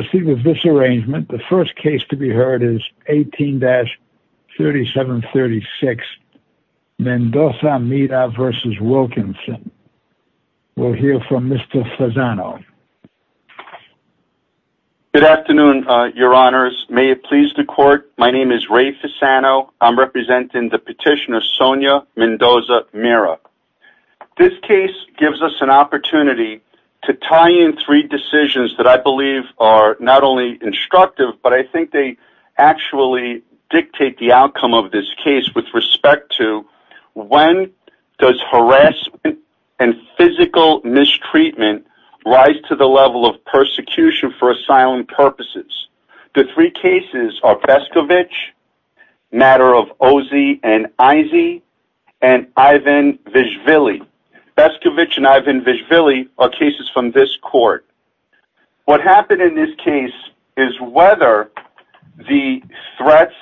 The first case to be heard is 18-3736, Mendoza-Mira v. Wilkinson. We'll hear from Mr. Fasano. Good afternoon, your honors. May it please the court, my name is Ray Fasano. I'm representing the petitioner Sonia Mendoza-Mira. This case gives us an opportunity to tie in three decisions that I believe are not only instructive, but I think they actually dictate the outcome of this case with respect to when does harassment and physical mistreatment rise to the level of persecution for asylum purposes. The three cases are Bescovich, Matter of Ozzie and Izzie, and Ivan Vesvilli. Bescovich and Ivan Vesvilli are cases from this court. What happened in this case is whether the threats,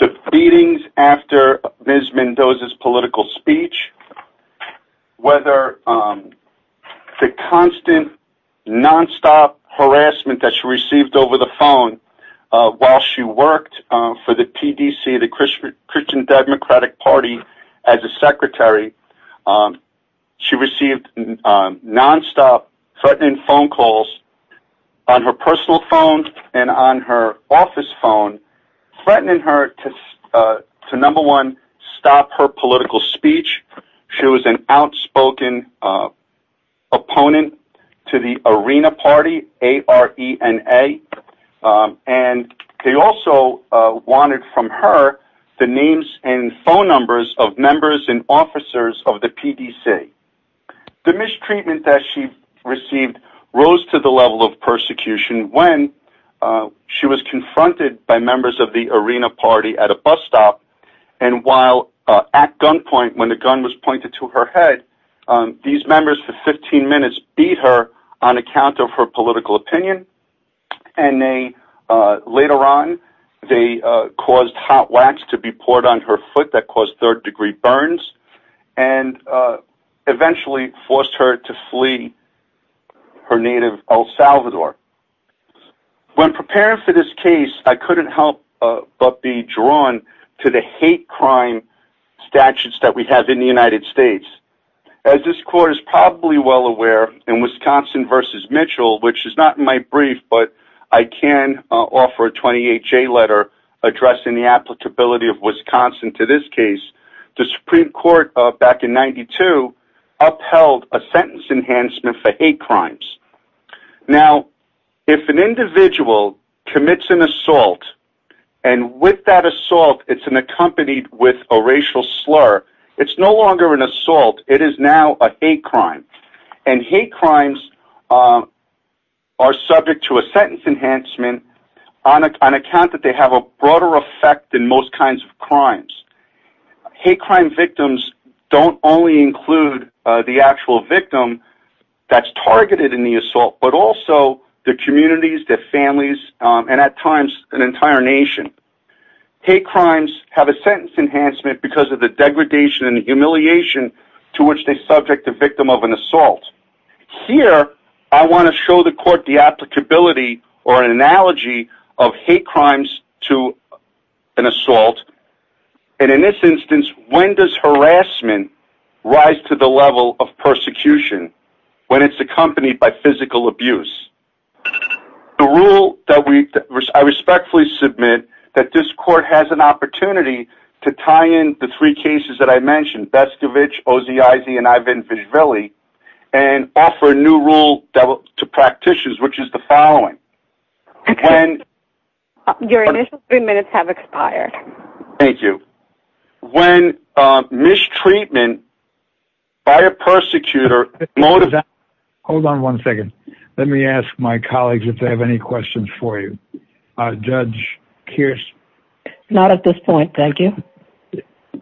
the beatings after Ms. Mendoza's political speech, whether the constant, non-stop harassment that she received over the phone while she worked for the PDC, the Christian Democratic Party, as a secretary. She received non-stop threatening phone calls on her personal phone and on her office phone threatening her to, number one, stop her political speech. She was an outspoken opponent to the Arena Party, A-R-E-N-A, and they also wanted from her the names and phone numbers of members and officers of the PDC. The mistreatment that she received rose to the level of persecution when she was confronted by members of the Arena Party at a bus stop, and while at gunpoint, when the gun was pointed to her head, these members for 15 minutes beat her on account of her political opinion, and later on they caused hot wax to be poured on her foot that caused third-degree burns and eventually forced her to flee her native El Salvador. When preparing for this case, I couldn't help but be drawn to the hate crime statutes that we have in the United States. As this Court is probably well aware, in Wisconsin v. Mitchell, which is not in my brief but I can offer a 28-J letter addressing the applicability of Wisconsin to this case, the Supreme Court back in 1992 upheld a sentence enhancement for hate crimes. Now, if an individual commits an assault, and with that assault it's accompanied with a racial slur, it's no longer an assault, it is now a hate crime, and hate crimes are subject to a sentence enhancement on account that they have a broader effect than most kinds of crimes. Hate crime victims don't only include the actual victim that's targeted in the assault, but also their communities, their families, and at times an entire nation. Hate crimes have a sentence enhancement because of the degradation and humiliation to which Here, I want to show the Court the applicability or analogy of hate crimes to an assault, and in this instance, when does harassment rise to the level of persecution when it's accompanied by physical abuse? The rule that I respectfully submit that this Court has an opportunity to tie in the three and offer a new rule to practitioners, which is the following. Your initial three minutes have expired. Thank you. When mistreatment by a persecutor... Hold on one second. Let me ask my colleagues if they have any questions for you. Judge Kearse. Not at this point, thank you.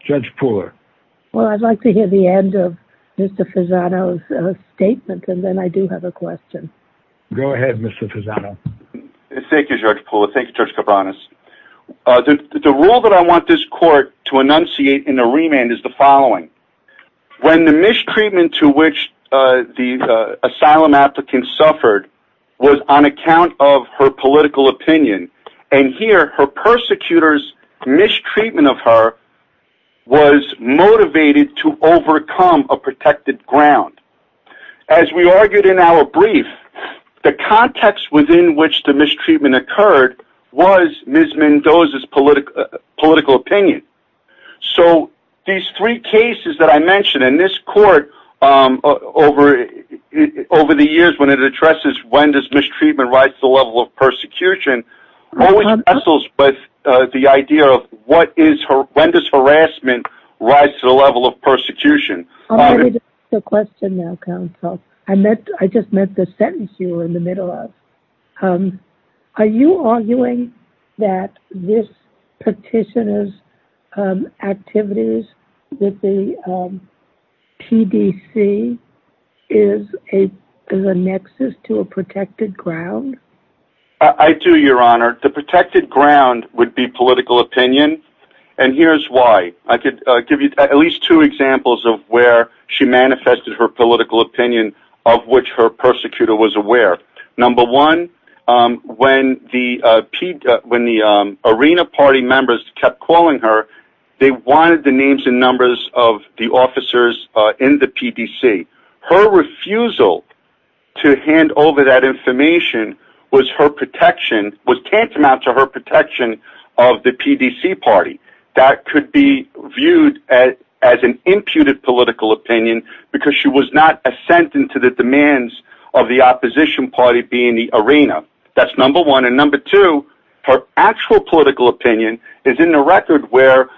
Judge Pooler. Well, I'd like to hear the end of Mr. Fusano's statement, and then I do have a question. Go ahead, Mr. Fusano. Thank you, Judge Pooler. Thank you, Judge Cabranes. The rule that I want this Court to enunciate in the remand is the following. When the mistreatment to which the asylum applicant suffered was on account of her political opinion, and here, her persecutor's mistreatment of her was motivated to overcome a protected ground. As we argued in our brief, the context within which the mistreatment occurred was Ms. Mendoza's political opinion. So, these three cases that I mentioned in this Court over the years when it addresses when does mistreatment rise to the level of persecution, always wrestles with the idea of when does harassment rise to the level of persecution. I'm ready to ask the question now, counsel. I just meant the sentence you were in the middle of. Are you arguing that this petitioner's activities with the PDC is a nexus to a protected ground? I do, Your Honor. The protected ground would be political opinion, and here's why. I could give you at least two examples of where she manifested her political opinion of which her persecutor was aware. Number one, when the Arena Party members kept calling her, they wanted the names and numbers of the officers in the PDC. Her refusal to hand over that information was tantamount to her protection of the PDC Party. That could be viewed as an imputed political opinion because she was not a sentent to the PDC Party being the Arena. That's number one. Number two, her actual political opinion is in the record where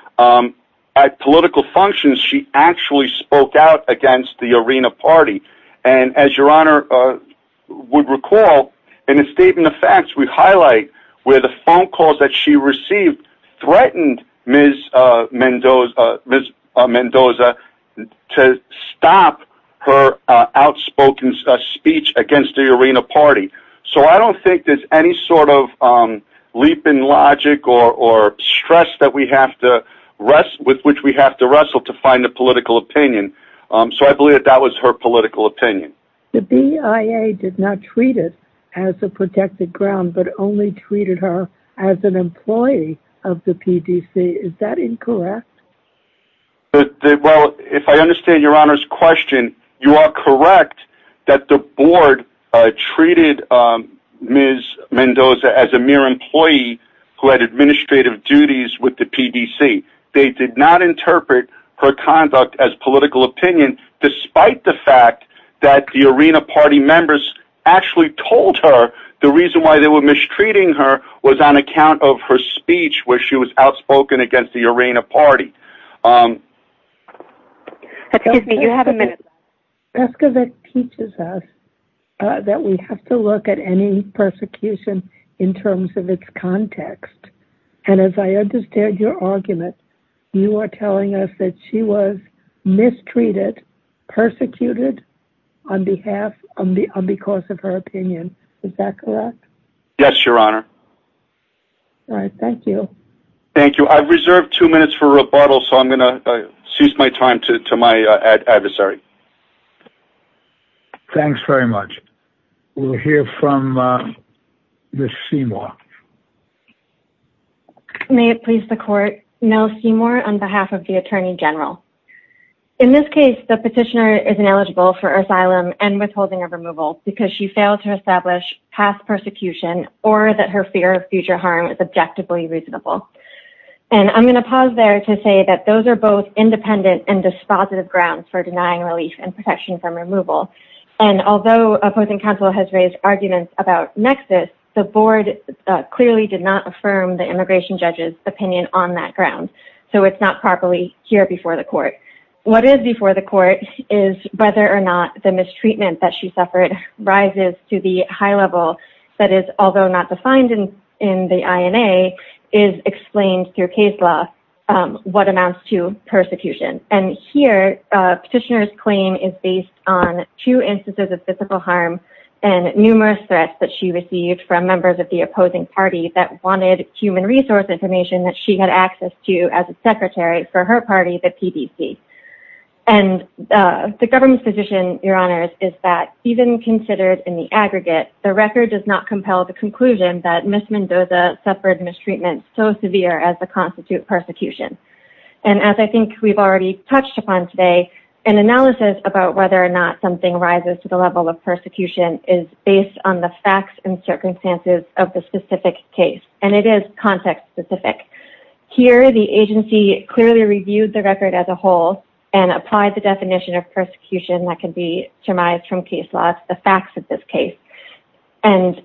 at political functions she actually spoke out against the Arena Party. As Your Honor would recall, in the Statement of Facts, we highlight where the phone calls that she received threatened Ms. Mendoza to stop her outspoken speech against the Arena Party. I don't think there's any sort of leap in logic or stress with which we have to wrestle to find a political opinion, so I believe that that was her political opinion. The BIA did not treat it as a protected ground, but only treated her as an employee of the PDC. Is that incorrect? Well, if I understand Your Honor's question, you are correct that the board treated Ms. Mendoza as a mere employee who had administrative duties with the PDC. They did not interpret her conduct as political opinion, despite the fact that the Arena Party members actually told her the reason why they were mistreating her was on account of her speech where she was outspoken against the Arena Party. Excuse me, you have a minute. Pescovitz teaches us that we have to look at any persecution in terms of its context, and as I understand your argument, you are telling us that she was mistreated, persecuted on behalf and because of her opinion. Is that correct? Yes, Your Honor. All right. Thank you. Thank you. I've reserved two minutes for rebuttal, so I'm going to cease my time to my adversary. Thanks very much. We'll hear from Ms. Seymour. May it please the court, Mel Seymour on behalf of the Attorney General. In this case, the petitioner is ineligible for asylum and withholding of removal because she failed to establish past persecution or that her fear of future harm is objectively reasonable. And I'm going to pause there to say that those are both independent and dispositive grounds for denying relief and protection from removal. And although a opposing counsel has raised arguments about nexus, the board clearly did not affirm the immigration judge's opinion on that ground, so it's not properly here before the court. What is before the court is whether or not the mistreatment that she suffered rises to the high level that is, although not defined in the INA, is explained through case law what amounts to persecution. And here, petitioner's claim is based on two instances of physical harm and numerous threats that she received from members of the opposing party that wanted human resource information that she had access to as a secretary for her party, the PDC. And the government's position, Your Honors, is that even considered in the aggregate, the record does not compel the conclusion that Ms. Mendoza suffered mistreatment so severe as the constitute persecution. And as I think we've already touched upon today, an analysis about whether or not something rises to the level of persecution is based on the facts and circumstances of the specific case, and it is context-specific. Here, the agency clearly reviewed the record as a whole and applied the definition of persecution that can be surmised from case law as the facts of this case. And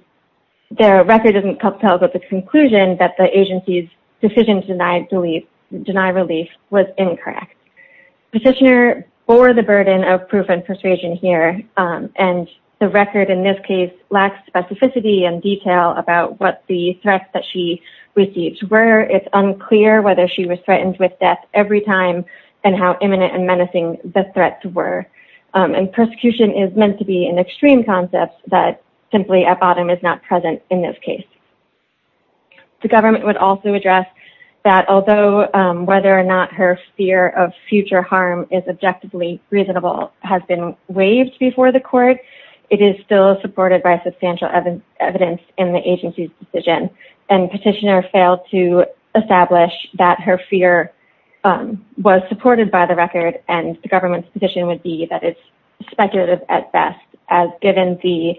the record doesn't compel but the conclusion that the agency's decision to deny relief was incorrect. Petitioner bore the burden of proof and persuasion here, and the record in this case lacks specificity and detail about what the threats that she received were. It's unclear whether she was threatened with death every time and how imminent and menacing the threats were. And persecution is meant to be an extreme concept that simply at bottom is not present in this case. The government would also address that although whether or not her fear of future harm is objectively reasonable has been waived before the court, it is still supported by substantial evidence in the agency's decision. And petitioner failed to establish that her fear was supported by the record, and the government's position would be that it's speculative at best, as given the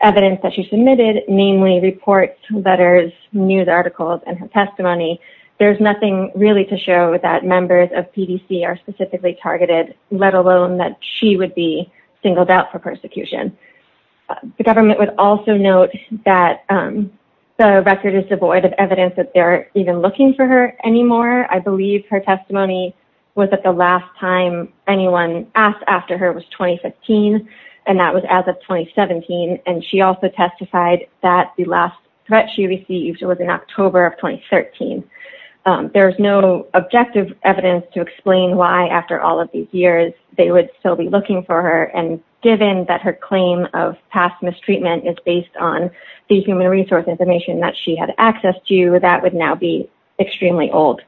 evidence that she submitted, namely reports, letters, news articles, and her testimony. There's nothing really to show that members of PDC are specifically targeted, let alone that she would be singled out for persecution. The government would also note that the record is devoid of evidence that they're even looking for her anymore. I believe her testimony was at the last time anyone asked after her was 2015, and that testified that the last threat she received was in October of 2013. There's no objective evidence to explain why after all of these years, they would still be looking for her. And given that her claim of past mistreatment is based on the human resource information that she had access to, that would now be extremely old.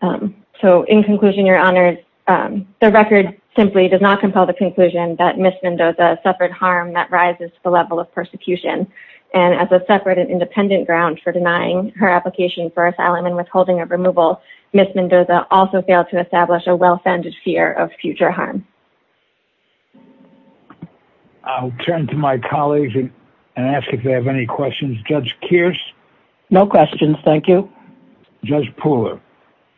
So in conclusion, your honors, the record simply does not compel the conclusion that Ms. Mendoza suffered harm that rises to the level of persecution. And as a separate and independent ground for denying her application for asylum and withholding of removal, Ms. Mendoza also failed to establish a well-founded fear of future harm. I'll turn to my colleagues and ask if they have any questions. Judge Kearse? No questions, thank you. Judge Pooler?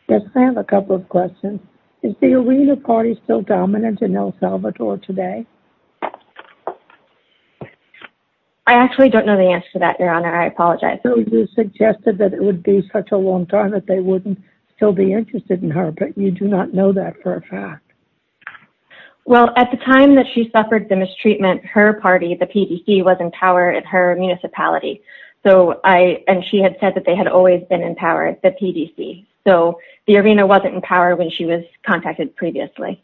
Yes, I have a couple of questions. Is the Arena Party still dominant in El Salvador today? I actually don't know the answer to that, your honor. I apologize. So you suggested that it would be such a long time that they wouldn't still be interested in her, but you do not know that for a fact. Well, at the time that she suffered the mistreatment, her party, the PDC, was in power in her municipality. And she had said that they had always been in power, the PDC. So the Arena wasn't in power when she was contacted previously.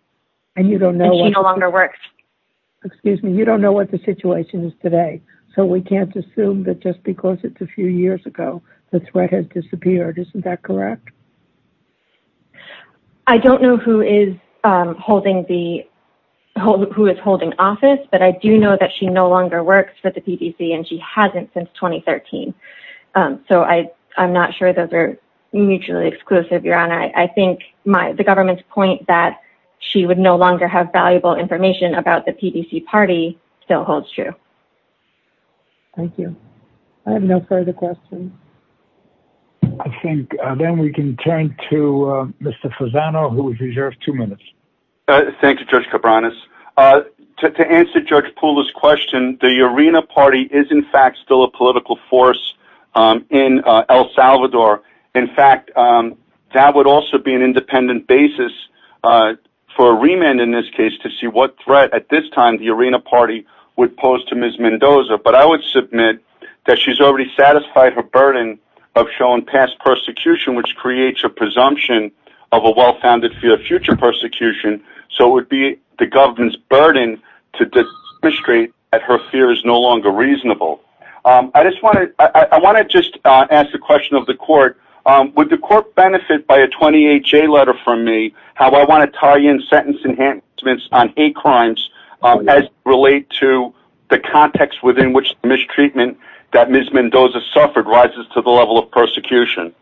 And you don't know... And she no longer works. Excuse me, you don't know what the situation is today. So we can't assume that just because it's a few years ago, the threat has disappeared. Isn't that correct? I don't know who is holding office, but I do know that she no longer works for the PDC and she hasn't since 2013. So I'm not sure those are mutually exclusive, your honor. I think the government's point that she would no longer have valuable information about the PDC party still holds true. Thank you. I have no further questions. I think then we can turn to Mr. Fasano, who has reserved two minutes. Thank you, Judge Cabranes. To answer Judge Pula's question, the Arena party is in fact still a political force in El Salvador. In fact, that would also be an independent basis for a remand in this case to see what threat at this time the Arena party would pose to Ms. Mendoza. But I would submit that she's already satisfied her burden of showing past persecution, which creates a presumption of a well-founded fear of future persecution. So it would be the government's burden to demonstrate that her fear is no longer reasonable. I just want to ask the question of the court, would the court benefit by a 28-J letter from how I want to tie in sentence enhancements on hate crimes as relate to the context within which mistreatment that Ms. Mendoza suffered rises to the level of persecution?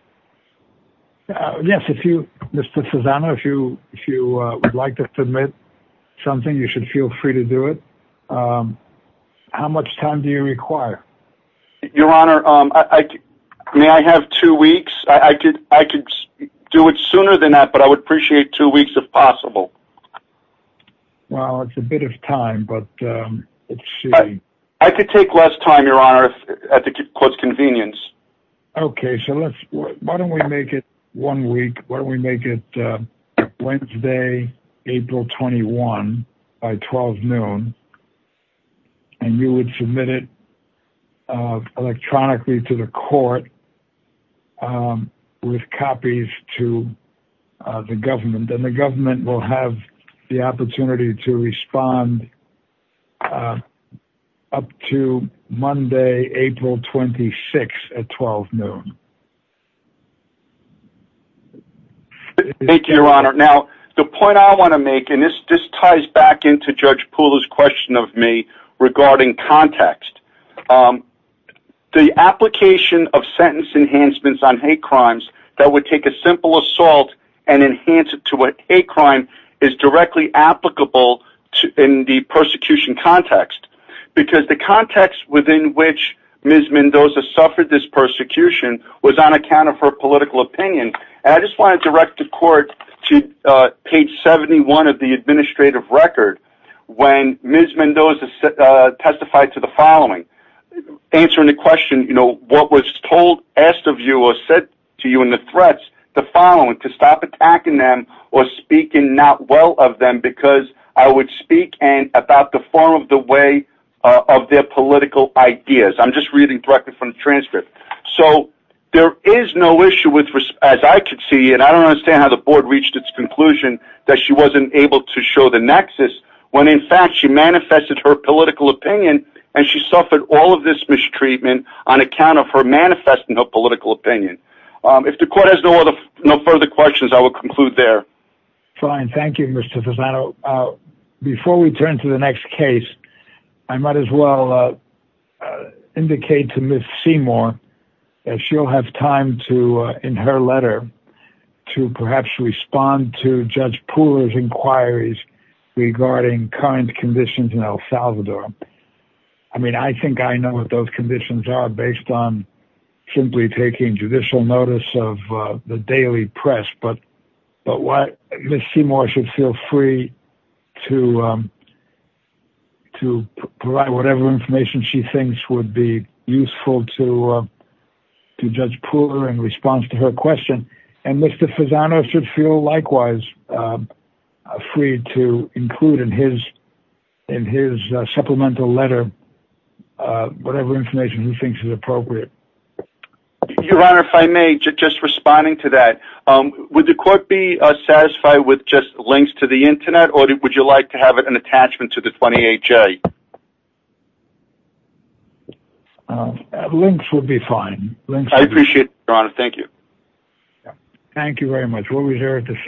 Yes, if you, Mr. Fasano, if you would like to submit something, you should feel free to do it. How much time do you require? Your honor, may I have two weeks? I could do it sooner than that, but I would appreciate two weeks if possible. Well, it's a bit of time, but let's see. I could take less time, your honor, at the court's convenience. Okay, so let's, why don't we make it one week? Why don't we make it Wednesday, April 21 by 12 noon, and you would submit it electronically to the court with copies to the government. Then the government will have the opportunity to respond up to Monday, April 26 at 12 noon. Thank you, your honor. Now, the point I want to make, and this ties back into Judge Poole's question of me the application of sentence enhancements on hate crimes that would take a simple assault and enhance it to a hate crime is directly applicable in the persecution context, because the context within which Ms. Mendoza suffered this persecution was on account of her political opinion. And I just want to direct the court to page 71 of the administrative record when Ms. Mendoza testified to the following. Answering the question, you know, what was told, asked of you, or said to you in the threats, the following, to stop attacking them or speaking not well of them, because I would speak and about the form of the way of their political ideas. I'm just reading directly from the transcript. So there is no issue with, as I could see, and I don't understand how the board reached its conclusion that she wasn't able to show the nexus when in fact she manifested her treatment on account of her manifest in her political opinion. If the court has no further questions, I will conclude there. Fine. Thank you, Mr. Fasano. Before we turn to the next case, I might as well indicate to Ms. Seymour that she'll have time to, in her letter, to perhaps respond to Judge Poole's inquiries regarding current conditions in El Salvador. I mean, I think I know what those conditions are based on simply taking judicial notice of the daily press, but Ms. Seymour should feel free to provide whatever information she thinks would be useful to Judge Poole in response to her question. And Mr. Fasano should feel likewise free to include in his supplemental letter whatever information he thinks is appropriate. Your Honor, if I may, just responding to that, would the court be satisfied with just links to the internet or would you like to have an attachment to the 28J? Links would be fine. I appreciate it, Your Honor. Thank you. Thank you very much.